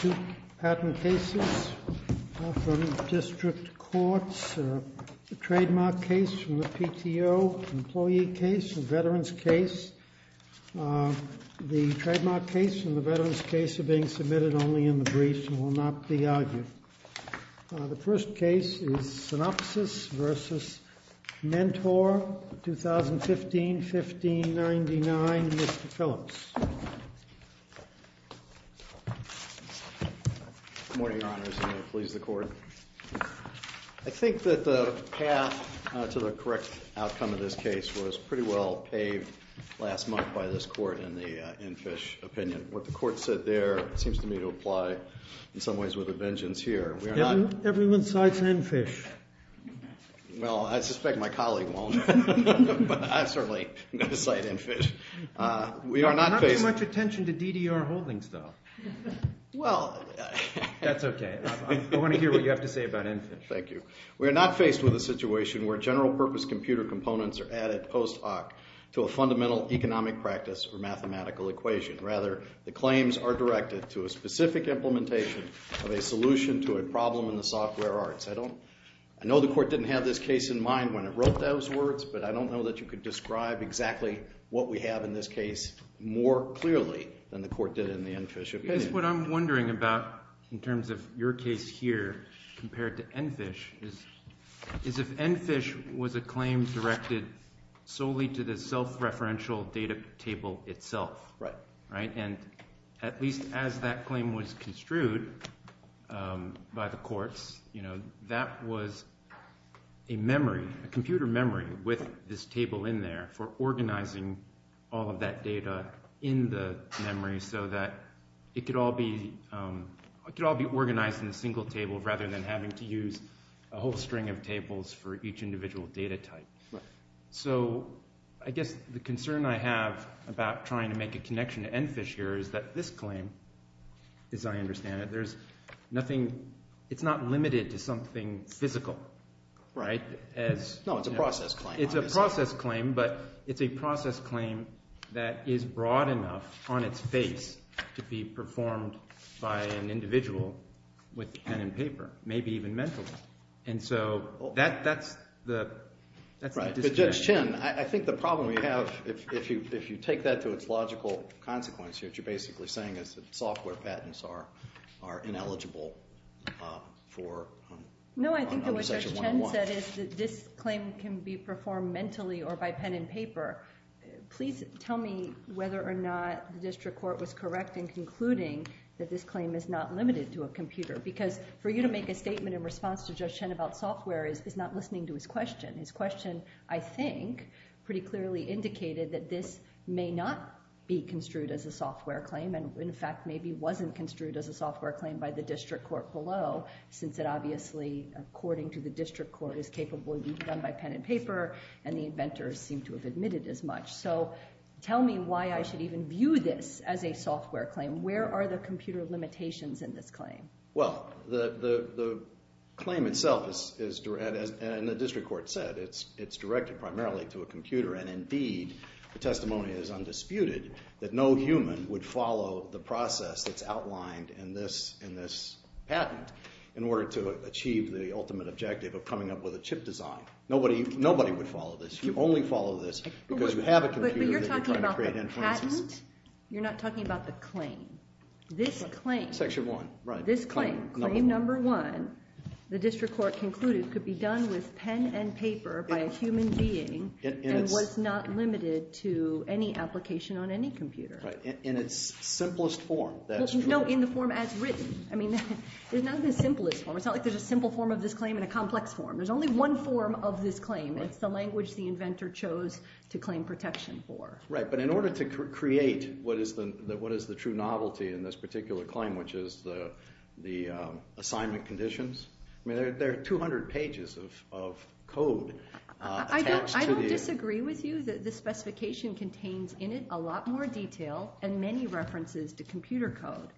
Two patent cases are from district courts. They're a trademark case from the PTO, an employee case, a veteran's case. The trademark case and the veteran's case are being submitted only in the brief and will not be argued. The first case is Synopsys v. Mentor, 2015-1599, Mr. Phillips. Good morning, Your Honors, and please the court. I think that the path to the correct outcome of this case was pretty well paved last month by this court in the Enfish opinion. What the court said there seems to me to apply in some ways with a vengeance here. Everyone cites Enfish. Well, I suspect my colleague won't, but I certainly cite Enfish. We are not faced with a situation where general purpose computer components are added post hoc to a fundamental economic practice or mathematical equation. Rather, the claims are directed to a specific implementation of a solution to a problem in the software arts. I know the court didn't have this case in mind when it wrote those words, but I don't know that you could describe exactly what we have in this case more clearly than the court did in the Enfish opinion. What I'm wondering about in terms of your case here compared to Enfish is if Enfish was a claim directed solely to the self-referential data table itself, and at least as that claim was organizing all of that data in the memory so that it could all be organized in a single table rather than having to use a whole string of tables for each individual data type. I guess the concern I have about trying to make a connection to Enfish here is that this claim, as I understand it, is not limited to something physical. No, it's a process claim. It's a process claim, but it's a process claim that is broad enough on its face to be performed by an individual with pen and paper, maybe even mentally. Judge Chin, I think the problem we have, if you take that to its logical consequence here, what you're basically saying is that software patents are ineligible for under section 101. No, I think that what Judge Chin said is that this claim can be performed mentally or by pen and paper. Please tell me whether or not the district court was correct in concluding that this claim is not limited to a computer, because for you to make a statement in response to Judge Chin about software is not listening to his question. His question, I think, pretty clearly indicated that this may not be construed as a software claim, in fact, maybe wasn't construed as a software claim by the district court below, since it obviously, according to the district court, is capable of being done by pen and paper, and the inventors seem to have admitted as much. So tell me why I should even view this as a software claim. Where are the computer limitations in this claim? Well, the claim itself, as the district court said, it's directed primarily to a computer, and indeed, the testimony is undisputed that no human would follow the process that's outlined in this patent in order to achieve the ultimate objective of coming up with a chip design. Nobody would follow this. You only follow this because you have a computer that you're trying to create inferences. But you're talking about the patent. You're not talking about the claim. This claim. Section one, right. This claim, claim number one, the district court concluded could be done with pen and paper by human being and was not limited to any application on any computer. In its simplest form. No, in the form as written. I mean, there's nothing as simple as form. It's not like there's a simple form of this claim in a complex form. There's only one form of this claim. It's the language the inventor chose to claim protection for. Right, but in order to create what is the true novelty in this I don't disagree with you that the specification contains in it a lot more detail and many references to computer code.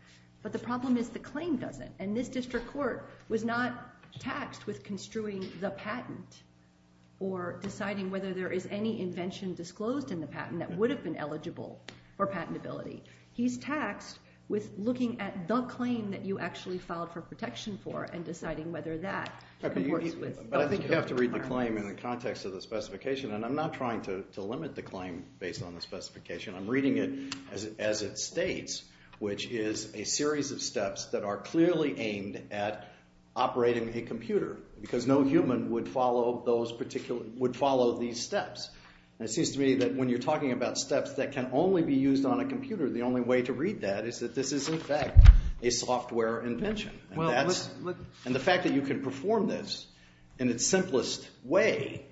But the problem is the claim doesn't. And this district court was not taxed with construing the patent or deciding whether there is any invention disclosed in the patent that would have been eligible for patentability. He's taxed with looking at the claim that you actually filed for protection for and deciding whether that But I think you have to read the claim in the context of the specification. And I'm not trying to limit the claim based on the specification. I'm reading it as it states, which is a series of steps that are clearly aimed at operating a computer because no human would follow those particular, would follow these steps. And it seems to me that when you're talking about steps that can only be used on a computer, the only way to read that is that this is in fact a software invention. And the fact that you can perform this in its simplest way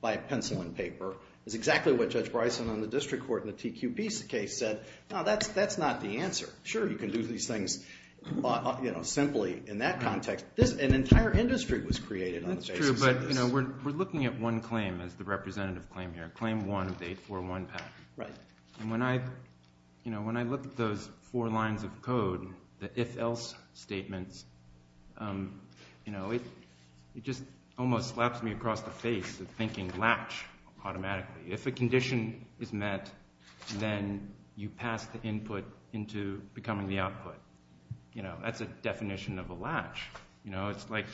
by a pencil and paper is exactly what Judge Bryson on the district court in the TQP case said, no, that's not the answer. Sure, you can do these things, you know, simply in that context. An entire industry was created on the basis of this. That's true, but, you know, we're looking at one claim as the representative claim here. Claim one of 841 patent. Right. And when I, you know, when I look at those four lines of code, the if else statements, you know, it just almost slaps me across the face of thinking latch automatically. If a condition is met, then you pass the input into becoming the output. You know, that's a definition of a latch. You know, it's like,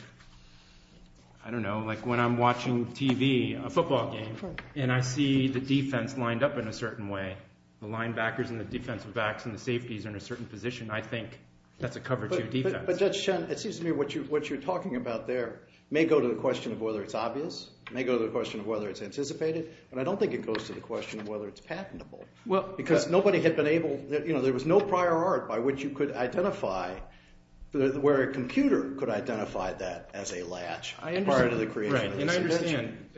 I don't know, like when I'm watching TV, a football game, and I see the defense lined up in a certain way, the linebackers and the defensive backs and the safeties in a certain position, I think that's a cover to defense. But Judge Chen, it seems to me what you're talking about there may go to the question of whether it's obvious, may go to the question of whether it's anticipated, but I don't think it goes to the question of whether it's patentable. Well, because nobody had been able, you know, there was no prior art by which you could identify where a computer could identify that as a latch prior to the creation of this invention.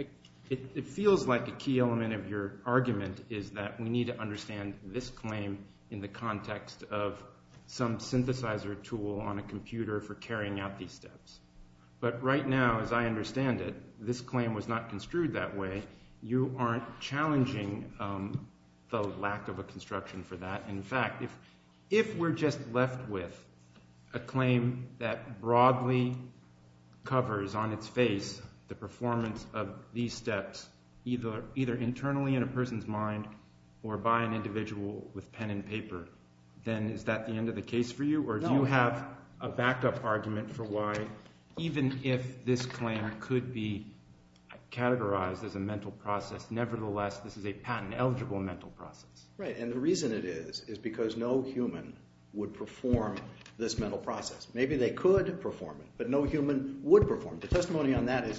It feels like a key element of your argument is that we need to understand this claim in the context of some synthesizer tool on a computer for carrying out these steps. But right now, as I understand it, this claim was not construed that way. You aren't challenging the lack of a construction for that. In fact, if we're just left with a claim that broadly covers on its face the performance of these steps, either internally in a person's mind or by an individual with pen and paper, then is that the end of the case for you? Or do you have a backup argument for why, even if this claim could be categorized as a mental process, nevertheless, this is a patent eligible mental process? Right. And the reason it is, is because no human would perform this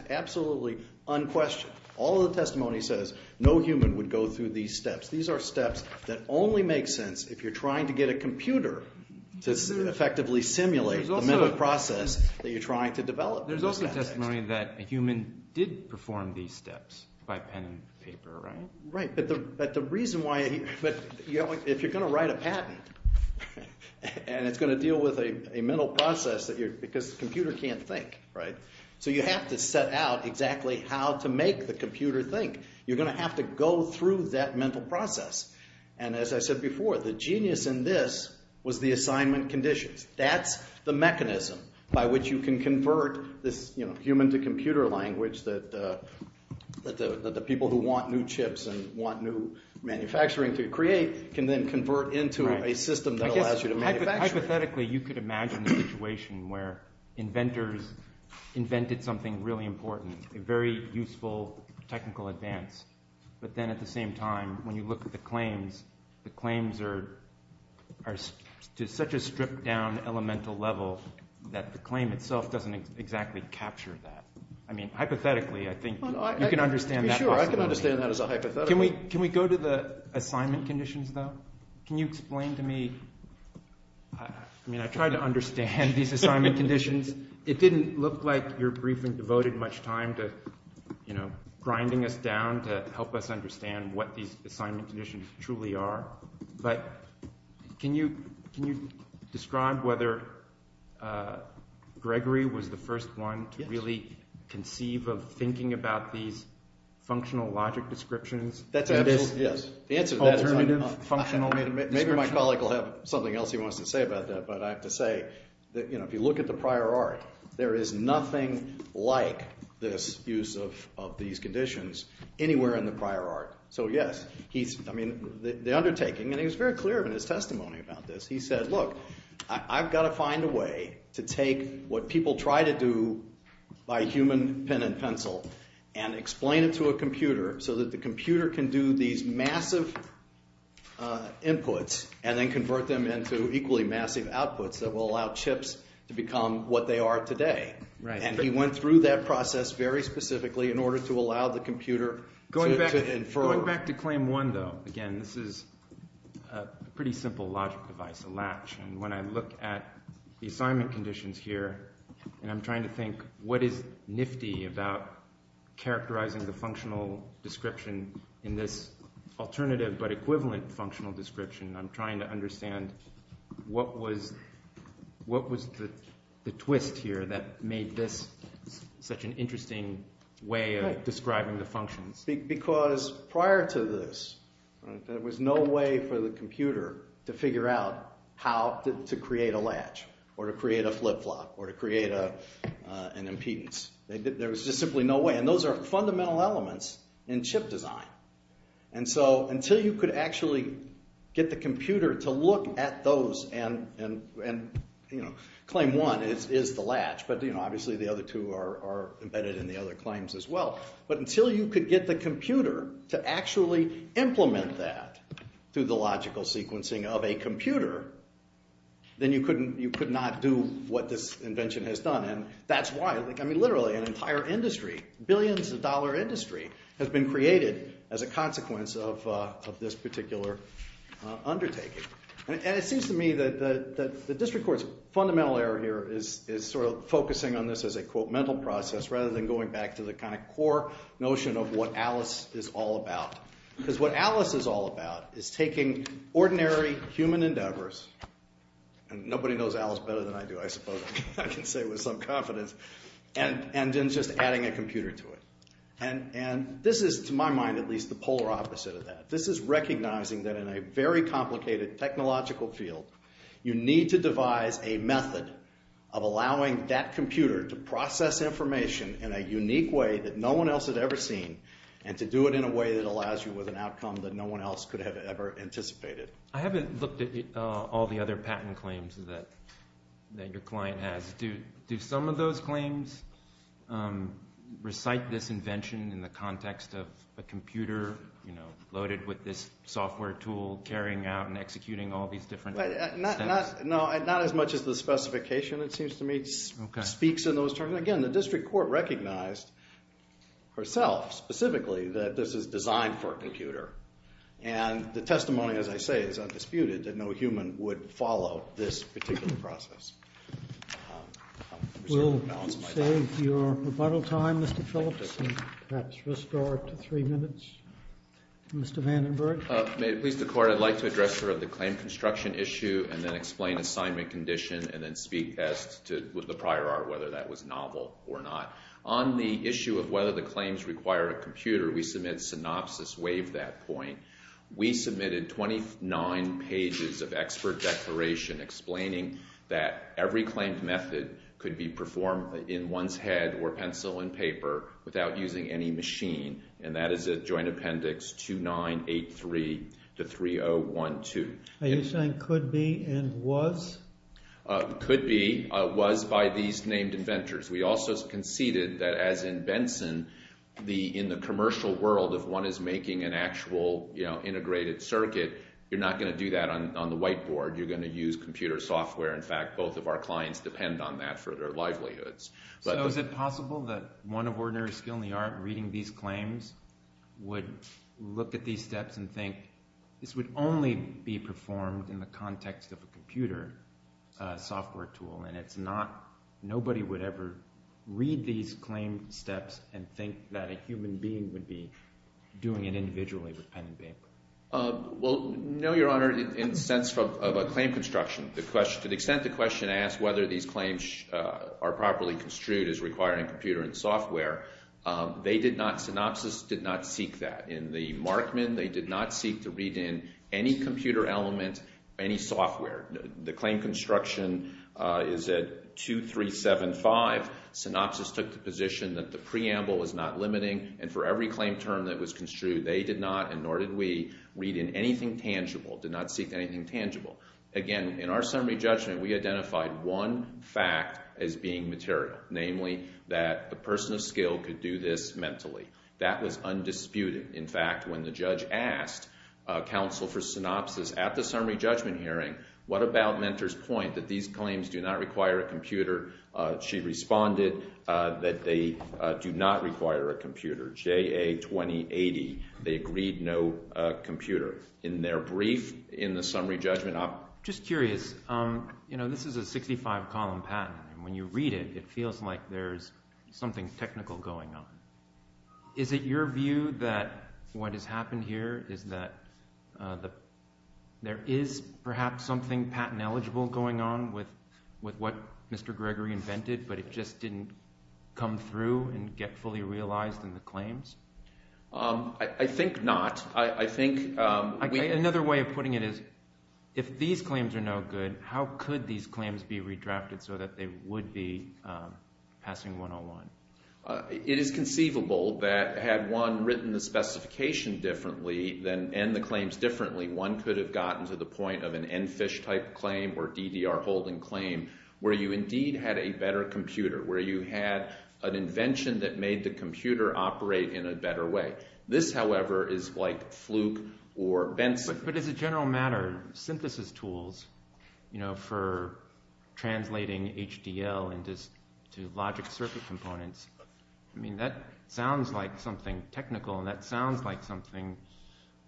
absolutely unquestioned. All the testimony says no human would go through these steps. These are steps that only make sense if you're trying to get a computer to effectively simulate the mental process that you're trying to develop. There's also testimony that a human did perform these steps by pen and paper, right? Right. But the reason why, but if you're going to write a patent and it's going to deal with a mental process that you're, because the computer can't think, right? So you have to set out exactly how to make the computer think. You're going to have to go through that mental process. And as I said before, the genius in this was the assignment conditions. That's the mechanism by which you can convert this, you know, human to computer language that the people who want new chips and want new manufacturing to create can then convert into a system that allows you to manufacture. Hypothetically, you could imagine a situation where inventors invented something really important, a very useful technical advance. But then at the same time, when you look at the claims, the claims are to such a stripped down elemental level that the claim itself doesn't exactly capture that. I mean, hypothetically, I think you can understand that. Sure, I can understand that as a hypothetical. Can we go to the assignment conditions though? Can you explain to me, I mean, I tried to understand these assignment conditions. It didn't look like your briefing devoted much time to, you know, grinding us down to help us understand what these assignment conditions truly are. But can you describe whether Gregory was the first one to really conceive of thinking about these functional logic descriptions? That's an answer. Yes, the answer to that is maybe my colleague will have something else he wants to say about that. But I have to say that, you know, if you look at the prior art, there is nothing like this use of these conditions anywhere in the prior art. So yes, he's, I mean, the undertaking, and he was very clear in his testimony about this. He said, look, I've got to find a way to take what people try to do by human pen and pencil and explain it to a computer so that the computer can do these massive inputs and then convert them into equally massive outputs that will allow chips to become what they are today. And he went through that process very specifically in order to allow the computer to infer. Going back to claim one though, again, this is a pretty simple logic device, a latch. And when I look at the assignment conditions here, and I'm trying to think what is description in this alternative but equivalent functional description, I'm trying to understand what was the twist here that made this such an interesting way of describing the functions? Because prior to this, there was no way for the computer to figure out how to create a latch, or to create a flip-flop, or to create an impedance. There was just simply no way. And those are fundamental elements in chip design. And so until you could actually get the computer to look at those, and claim one is the latch, but obviously the other two are embedded in the other claims as well. But until you could get the computer to actually implement that through the logical sequencing of a computer, then you could not do what this invention has done. And that's why literally an entire industry, billions of dollar industry, has been created as a consequence of this particular undertaking. And it seems to me that the district court's fundamental error here is focusing on this as a quote, mental process, rather than going back to the core notion of what Alice is all about. Because what Alice is all about is taking ordinary human endeavors, and nobody knows Alice better than I do I suppose I can say with some confidence, and then just adding a computer to it. And this is to my mind at least the polar opposite of that. This is recognizing that in a very complicated technological field, you need to devise a method of allowing that computer to process information in a unique way that no one else had ever seen, and to do it in a way that allows you with an outcome that no one else could have ever anticipated. I haven't looked at all the other patent claims that your client has. Do some of those claims recite this invention in the context of a computer loaded with this software tool carrying out and executing all these different... Not as much as the specification it seems to me speaks in those terms. Again, the district court recognized herself specifically that this is as I say, it's undisputed that no human would follow this particular process. We'll save your rebuttal time Mr. Phillips and perhaps restore it to three minutes. Mr. Vandenberg. Please the court, I'd like to address her on the claim construction issue, and then explain assignment condition, and then speak as to the prior art whether that was novel or not. On the issue of whether the claims require a computer, we submit synopsis waive that point. We submitted 29 pages of expert declaration explaining that every claimed method could be performed in one's head or pencil and paper without using any machine, and that is a joint appendix 2983 to 3012. Are you saying could be and was? Could be, was by these named inventors. We also conceded that as in Benson, in the commercial world, if one is making an actual integrated circuit, you're not going to do that on the whiteboard. You're going to use computer software. In fact, both of our clients depend on that for their livelihoods. So is it possible that one of ordinary skill in the art reading these claims would look at these steps and think this would only be performed in the context of a computer software tool, and it's not, nobody would ever read these claim steps and think that a human being would be doing it individually with pen and paper? Well, no, your honor, in the sense of a claim construction, the question, to the extent the question asks whether these claims are properly construed as requiring computer and software, they did not, Synopsys did not seek that. In the case of claim construction, is it 2375, Synopsys took the position that the preamble was not limiting, and for every claim term that was construed, they did not, and nor did we, read in anything tangible, did not seek anything tangible. Again, in our summary judgment, we identified one fact as being material, namely that the person of skill could do this mentally. That was undisputed. In fact, when the judge asked counsel for Synopsys at the summary judgment hearing, what about Mentor's point that these claims do not require a computer? She responded that they do not require a computer, JA 2080, they agreed no computer. In their brief, in the summary judgment, I'm just curious, you know, this is a 65-column patent, and when you read it, it feels like there's something technical going on. Is it your view that what has happened here is that there is perhaps something patent eligible going on with what Mr. Gregory invented, but it just didn't come through and get fully realized in the claims? I think not. I think another way of putting it is, if these claims are no good, how could these claims be redrafted so that they would be passing 101? It is conceivable that had one written the claims differently, one could have gotten to the point of an Enfish-type claim or DDR-holding claim where you indeed had a better computer, where you had an invention that made the computer operate in a better way. This, however, is like Fluke or Benson. But as a general matter, synthesis tools, you know, for translating HDL into logic circuit components, I mean, that sounds like something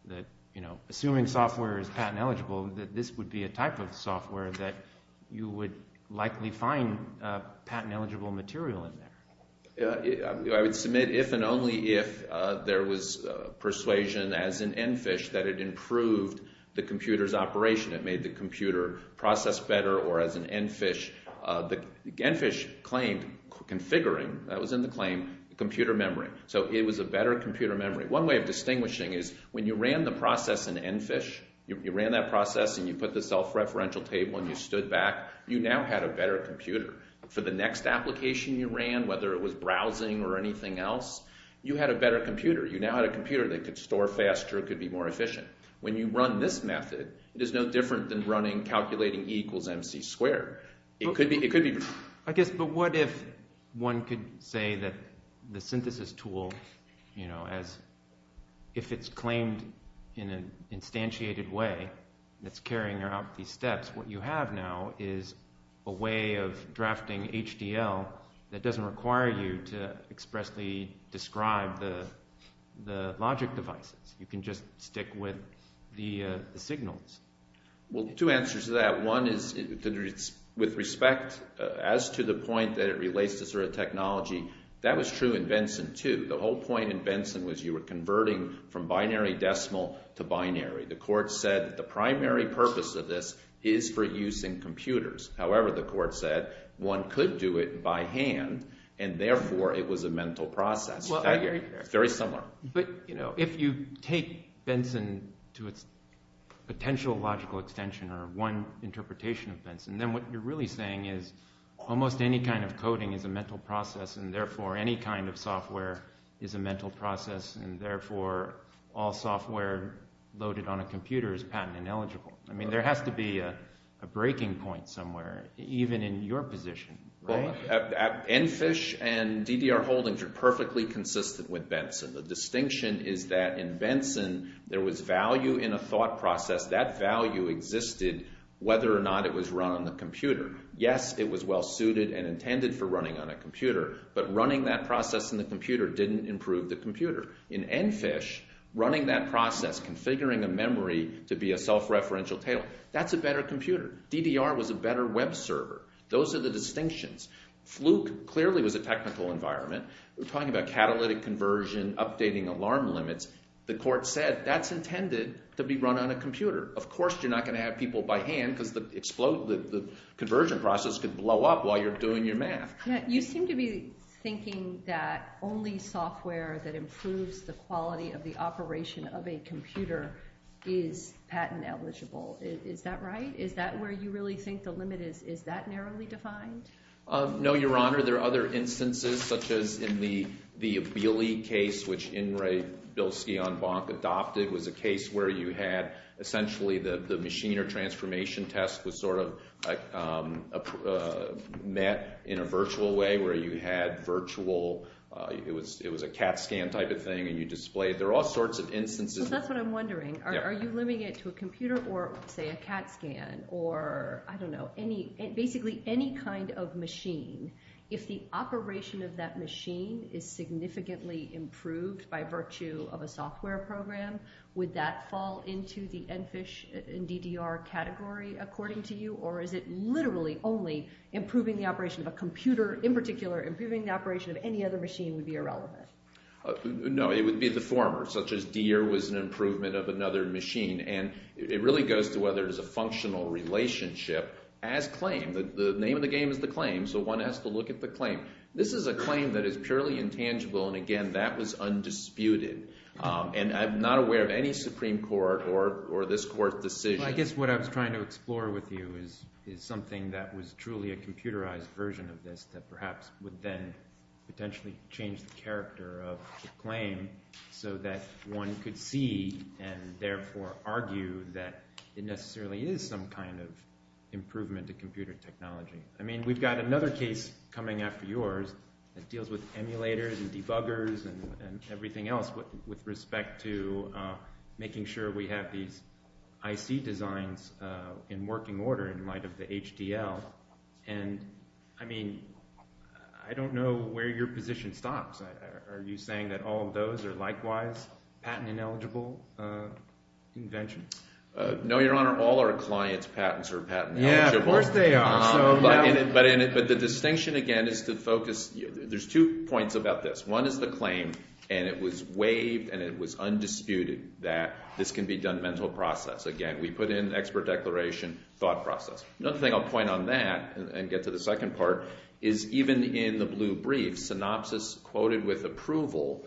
that, you know, assuming software is patent eligible, that this would be a type of software that you would likely find patent eligible material in there. I would submit if and only if there was persuasion as in Enfish that it improved the computer's operation, it made the computer process better, or as in Enfish, Enfish claimed configuring, that was in the claim, computer memory. So it was a better computer memory. One way of distinguishing is when you ran the process in Enfish, you ran that process and you put the self-referential table and you stood back, you now had a better computer. For the next application you ran, whether it was browsing or anything else, you had a better computer. You now had a computer that could store faster, could be more efficient. When you run this method, it is no different than running calculating E equals MC squared. It could be, it could be... I guess, but what if one could say that the synthesis tool, you know, as if it's claimed in an instantiated way, that's carrying out these steps, what you have now is a way of drafting HDL that doesn't require you to expressly describe the logic You can just stick with the signals. Well, two answers to that. One is, with respect as to the point that it relates to sort of technology, that was true in Benson too. The whole point in Benson was you were converting from binary decimal to binary. The court said the primary purpose of this is for use in computers. However, the court said one could do it by hand and therefore it was a mental process. Very similar. But, you know, if you take Benson to its potential logical extension or one interpretation of Benson, then what you're really saying is almost any kind of coding is a mental process and therefore any kind of software is a mental process and therefore all software loaded on a computer is patent ineligible. I mean, there has to be a breaking point somewhere, even in your position, right? Enfish and DDR Holdings are perfectly consistent with Benson. The distinction is that in Benson there was value in a thought process. That value existed whether or not it was run on the computer. Yes, it was well suited and intended for running on a computer, but running that process in the computer didn't improve the computer. In Enfish, running that process, configuring a memory to be a self-referential tailor, that's a better computer. DDR was a better web server. Those are the distinctions. Fluke clearly was a technical environment. We're talking about catalytic conversion, updating alarm limits. The court said that's intended to be run on a computer. Of course, you're not going to have people by hand because the conversion process could blow up while you're doing your math. You seem to be thinking that only software that improves the quality of the Is that right? Is that where you really think the limit is? Is that narrowly defined? No, Your Honor. There are other instances, such as in the Abili case, which Ingray-Bilski on Bonk adopted, was a case where you had essentially the machine or transformation test was sort of met in a virtual way, where you had virtual, it was a CAT scan type of thing, and you displayed. There are all sorts of instances. That's what I'm wondering. Are you it to a computer or, say, a CAT scan or, I don't know, basically any kind of machine, if the operation of that machine is significantly improved by virtue of a software program, would that fall into the NPHISH and DDR category, according to you? Or is it literally only improving the operation of a computer, in particular, improving the operation of any other machine would be irrelevant? No, it would be the former, such as was an improvement of another machine, and it really goes to whether there's a functional relationship as claimed. The name of the game is the claim, so one has to look at the claim. This is a claim that is purely intangible, and, again, that was undisputed, and I'm not aware of any Supreme Court or this Court's decision. Well, I guess what I was trying to explore with you is something that was truly a computerized version of this that perhaps would then potentially change the character of the claim so that one could see and therefore argue that it necessarily is some kind of improvement to computer technology. I mean, we've got another case coming after yours that deals with emulators and debuggers and everything else with respect to making sure we have these IC designs in working order in light of the HDL, and, I mean, I don't know where your position stops. Are you saying that all of those are likewise patent-ineligible inventions? No, Your Honor, all our clients' patents are patent-ineligible. Yeah, of course they are. But the distinction, again, is to focus... There's two points about this. One is the claim, and it was waived, and it was undisputed that this can be done mental process. Again, we put in expert declaration, thought process. Another thing I'll point on that and get to the second part is even in the blue brief, synopsis quoted with approval,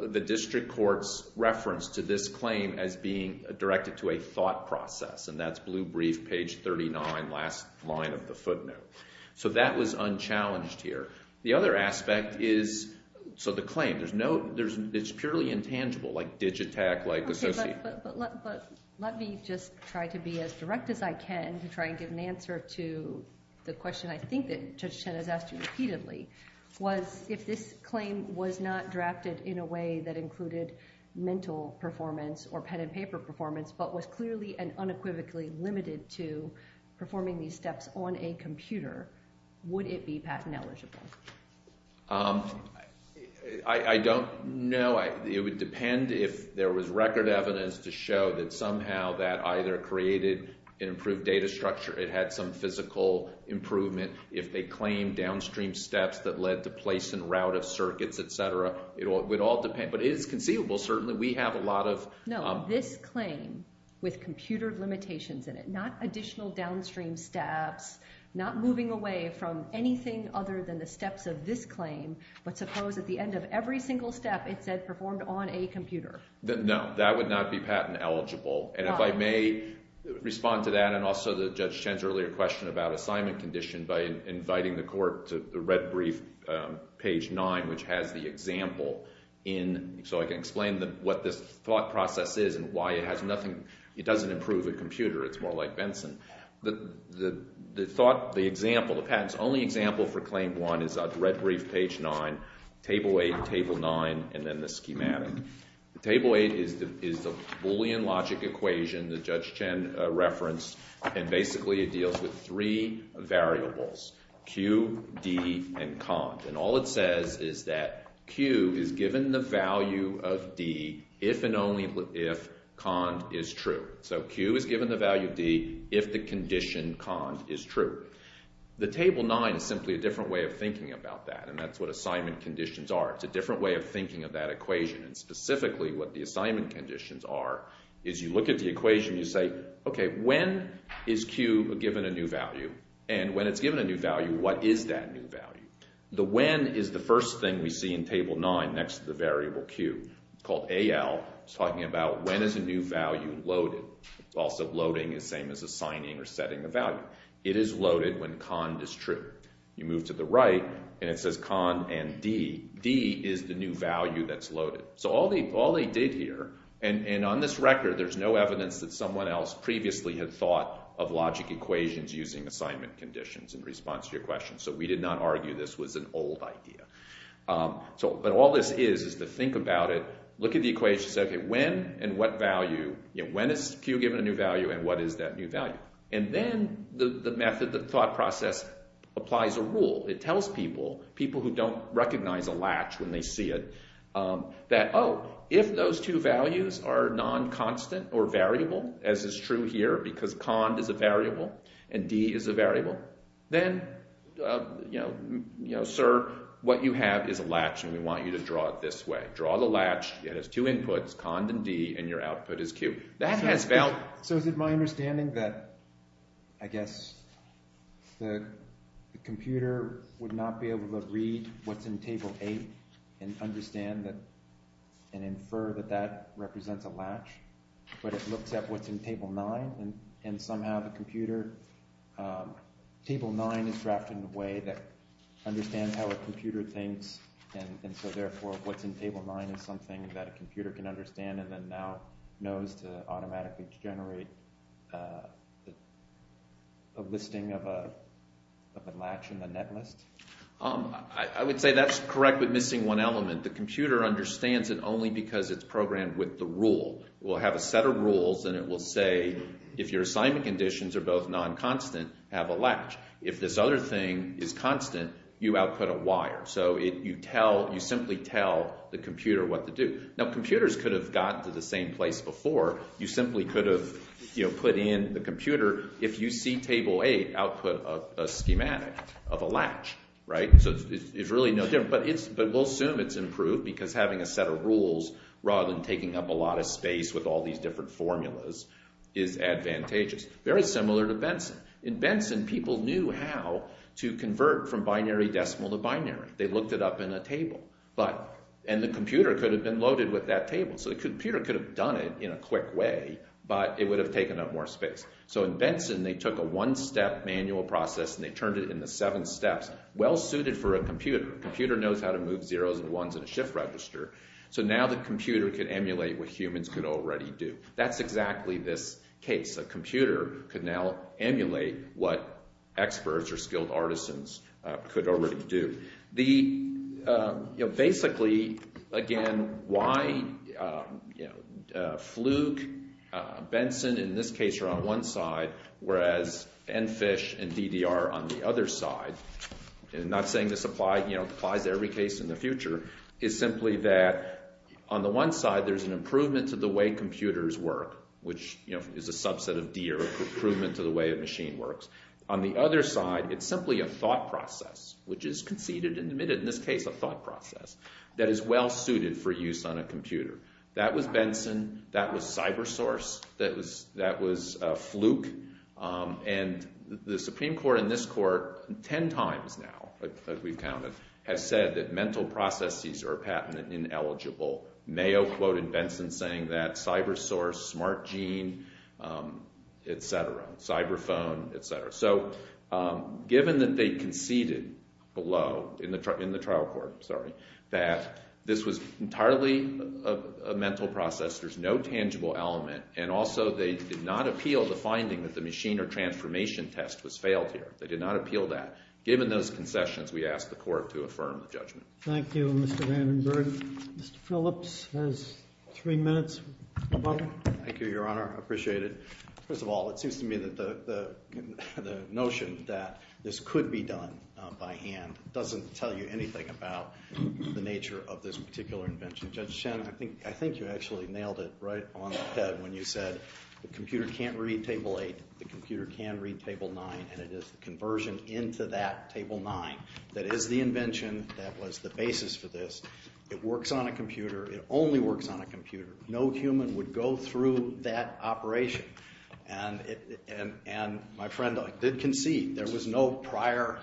the district court's reference to this claim as being directed to a thought process, and that's blue brief, page 39, last line of the footnote. So that was unchallenged here. The other aspect is... So the claim, there's no... It's purely intangible, like Digitac, like... Okay, but let me just try to be as direct as I can to try and give an answer to the question I think that Judge Chen has asked you repeatedly, was if this claim was not drafted in a way that included mental performance or pen-and-paper performance, but was clearly and unequivocally limited to performing these steps on a computer, would it be patent-eligible? I don't know. It would depend if there was record evidence to show that somehow that either created an improved data structure, it had some physical improvement if they claimed downstream steps that led to place and route of circuits, et cetera. It would all depend. But it is conceivable, certainly. We have a lot of... No, this claim with computer limitations in it, not additional downstream steps, not moving away from anything other than the steps of this claim, but suppose at the end of every single step it said performed on a computer. No, that would not be patent-eligible. And if I may respond to that, and also the Judge Chen's earlier question about assignment condition by inviting the court to the red brief, page 9, which has the example in... So I can explain what this thought process is and why it has nothing... It doesn't improve a computer. It's more like Benson. The thought, the example, the patent's only example for claim 1 is the red brief, page 9, table 8, table 9, and then the schematic. Table 8 is the Boolean logic equation that Judge Chen referenced, and basically it deals with three variables, Q, D, and COND. And all it says is that Q is given the value of D if and only if COND is true. So Q is given the value of D if the condition COND is true. The table 9 is simply a different way of thinking about that, and that's what assignment conditions are. It's a different way of thinking of that equation, and specifically what the assignment conditions are is you look at the equation, you say, okay, when is Q given a new value? And when it's given a new value, what is that new value? The when is the first thing we see in table 9 next to the variable Q. It's called AL. It's talking about when is a new value loaded? Also loading is the same as assigning or setting a value. It is loaded when COND is true. You move to the right, and it says COND and D. D is the new value that's loaded. So all they did here, and on this record there's no evidence that someone else previously had thought of logic equations using assignment conditions in response to your question, so we did not argue this was an old idea. But all this is is to think about it, look at the equation, say, okay, when and what value, you know, when is Q given a new value and what is that new value? And then the method, the thought process applies a rule. It tells people, people who don't recognize a latch when they see it, that, oh, if those two values are non-constant or variable, as is true here because COND is a variable and D is a variable, then, you know, sir, what you have is a latch, and we want you to draw it this way. Draw the latch. It has two inputs, COND and D, and your understanding that, I guess, the computer would not be able to read what's in table eight and understand that and infer that that represents a latch, but it looks at what's in table nine, and somehow the computer, table nine is drafted in a way that understands how a computer thinks, and so therefore what's in table nine is something that a computer can understand and then now automatically generate a listing of a latch in the net list. I would say that's correct, but missing one element. The computer understands it only because it's programmed with the rule. It will have a set of rules, and it will say, if your assignment conditions are both non-constant, have a latch. If this other thing is constant, you output a wire, so you tell, you simply tell the computer what to do. Now, computers could have got to the same place before. You simply could have, you know, put in the computer, if you see table eight, output a schematic of a latch, right? So it's really no different, but we'll assume it's improved because having a set of rules rather than taking up a lot of space with all these different formulas is advantageous. Very similar to Benson. In Benson, people knew how to convert from binary decimal to binary. They looked it up in a table, but, and the computer could have been loaded with that table, so the computer could have done it in a quick way, but it would have taken up more space. So in Benson, they took a one-step manual process, and they turned it into seven steps, well suited for a computer. Computer knows how to move zeros and ones in a shift register, so now the computer could emulate what humans could already do. That's exactly this case. A computer could now emulate what experts or skilled artisans could already do. The, you know, basically, again, why, you know, Fluke, Benson, in this case, are on one side, whereas Enfish and DDR are on the other side, and I'm not saying this applies to every case in the future, is simply that on the one side, there's an improvement to the way computers work, which, you know, is a subset of Deere, improvement to the way a machine works. On the other side, it's simply a thought process, which is conceded and admitted in this case, a thought process, that is well-suited for use on a computer. That was Benson. That was cybersource. That was Fluke, and the Supreme Court in this court, 10 times now, as we've counted, has said that mental processes are ineligible. Mayo quoted Benson saying that, cybersource, smart gene, et cetera, cyber phone, et cetera. So given that they conceded below, in the trial court, sorry, that this was entirely a mental process, there's no tangible element, and also they did not appeal the finding that the machine or transformation test was failed here. They did not appeal that. Given those findings, Mr. Phillips has three minutes. Thank you, Your Honor. Appreciate it. First of all, it seems to me that the notion that this could be done by hand doesn't tell you anything about the nature of this particular invention. Judge Shen, I think you actually nailed it right on the head when you said the computer can't read Table 8, the computer can read Table 9, and it is the conversion into that Table 9 that is the invention that was the basis for this. It works on a computer. It only works on a computer. No human would go through that operation, and my friend did concede there was no prior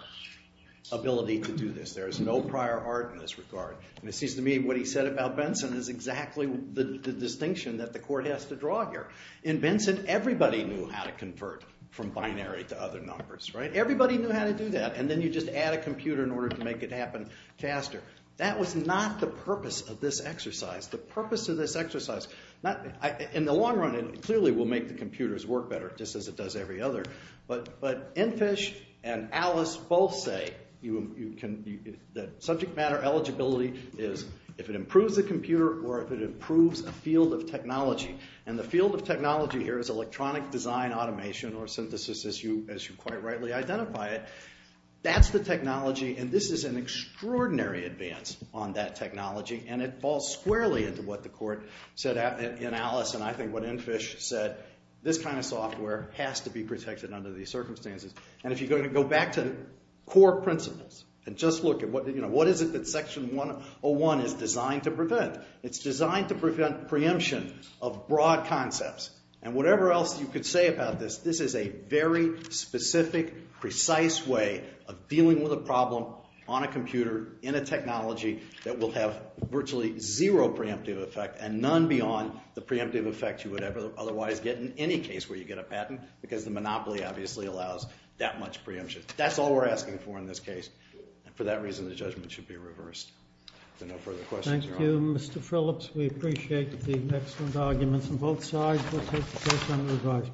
ability to do this. There is no prior art in this regard, and it seems to me what he said about Benson is exactly the distinction that the court has to draw here. In Benson, everybody knew how to convert from binary to other numbers, right? Everybody knew how to do that, and then you just add a computer in order to make it happen faster. That was not the purpose of this exercise. The purpose of this exercise, not in the long run, it clearly will make the computers work better just as it does every other, but Enfish and Alice both say that subject matter eligibility is if it improves the computer or if it improves a field of technology, and the field of technology here is electronic design automation or synthesis as you quite rightly identify it. That's the technology, and this is an extraordinary advance on that technology, and it falls squarely into what the court said in Alice and I think what Enfish said. This kind of software has to be protected under these circumstances, and if you're going to go back to the core principles and just look at what is it that is designed to prevent preemption of broad concepts, and whatever else you could say about this, this is a very specific, precise way of dealing with a problem on a computer in a technology that will have virtually zero preemptive effect and none beyond the preemptive effect you would ever otherwise get in any case where you get a patent because the monopoly obviously allows that much preemption. That's all we're asking for in this case, and for that reason the judgment should be reversed. If there are no further questions. Thank you, Mr. Phillips. We appreciate the excellent arguments on both sides. We'll take the case on revised.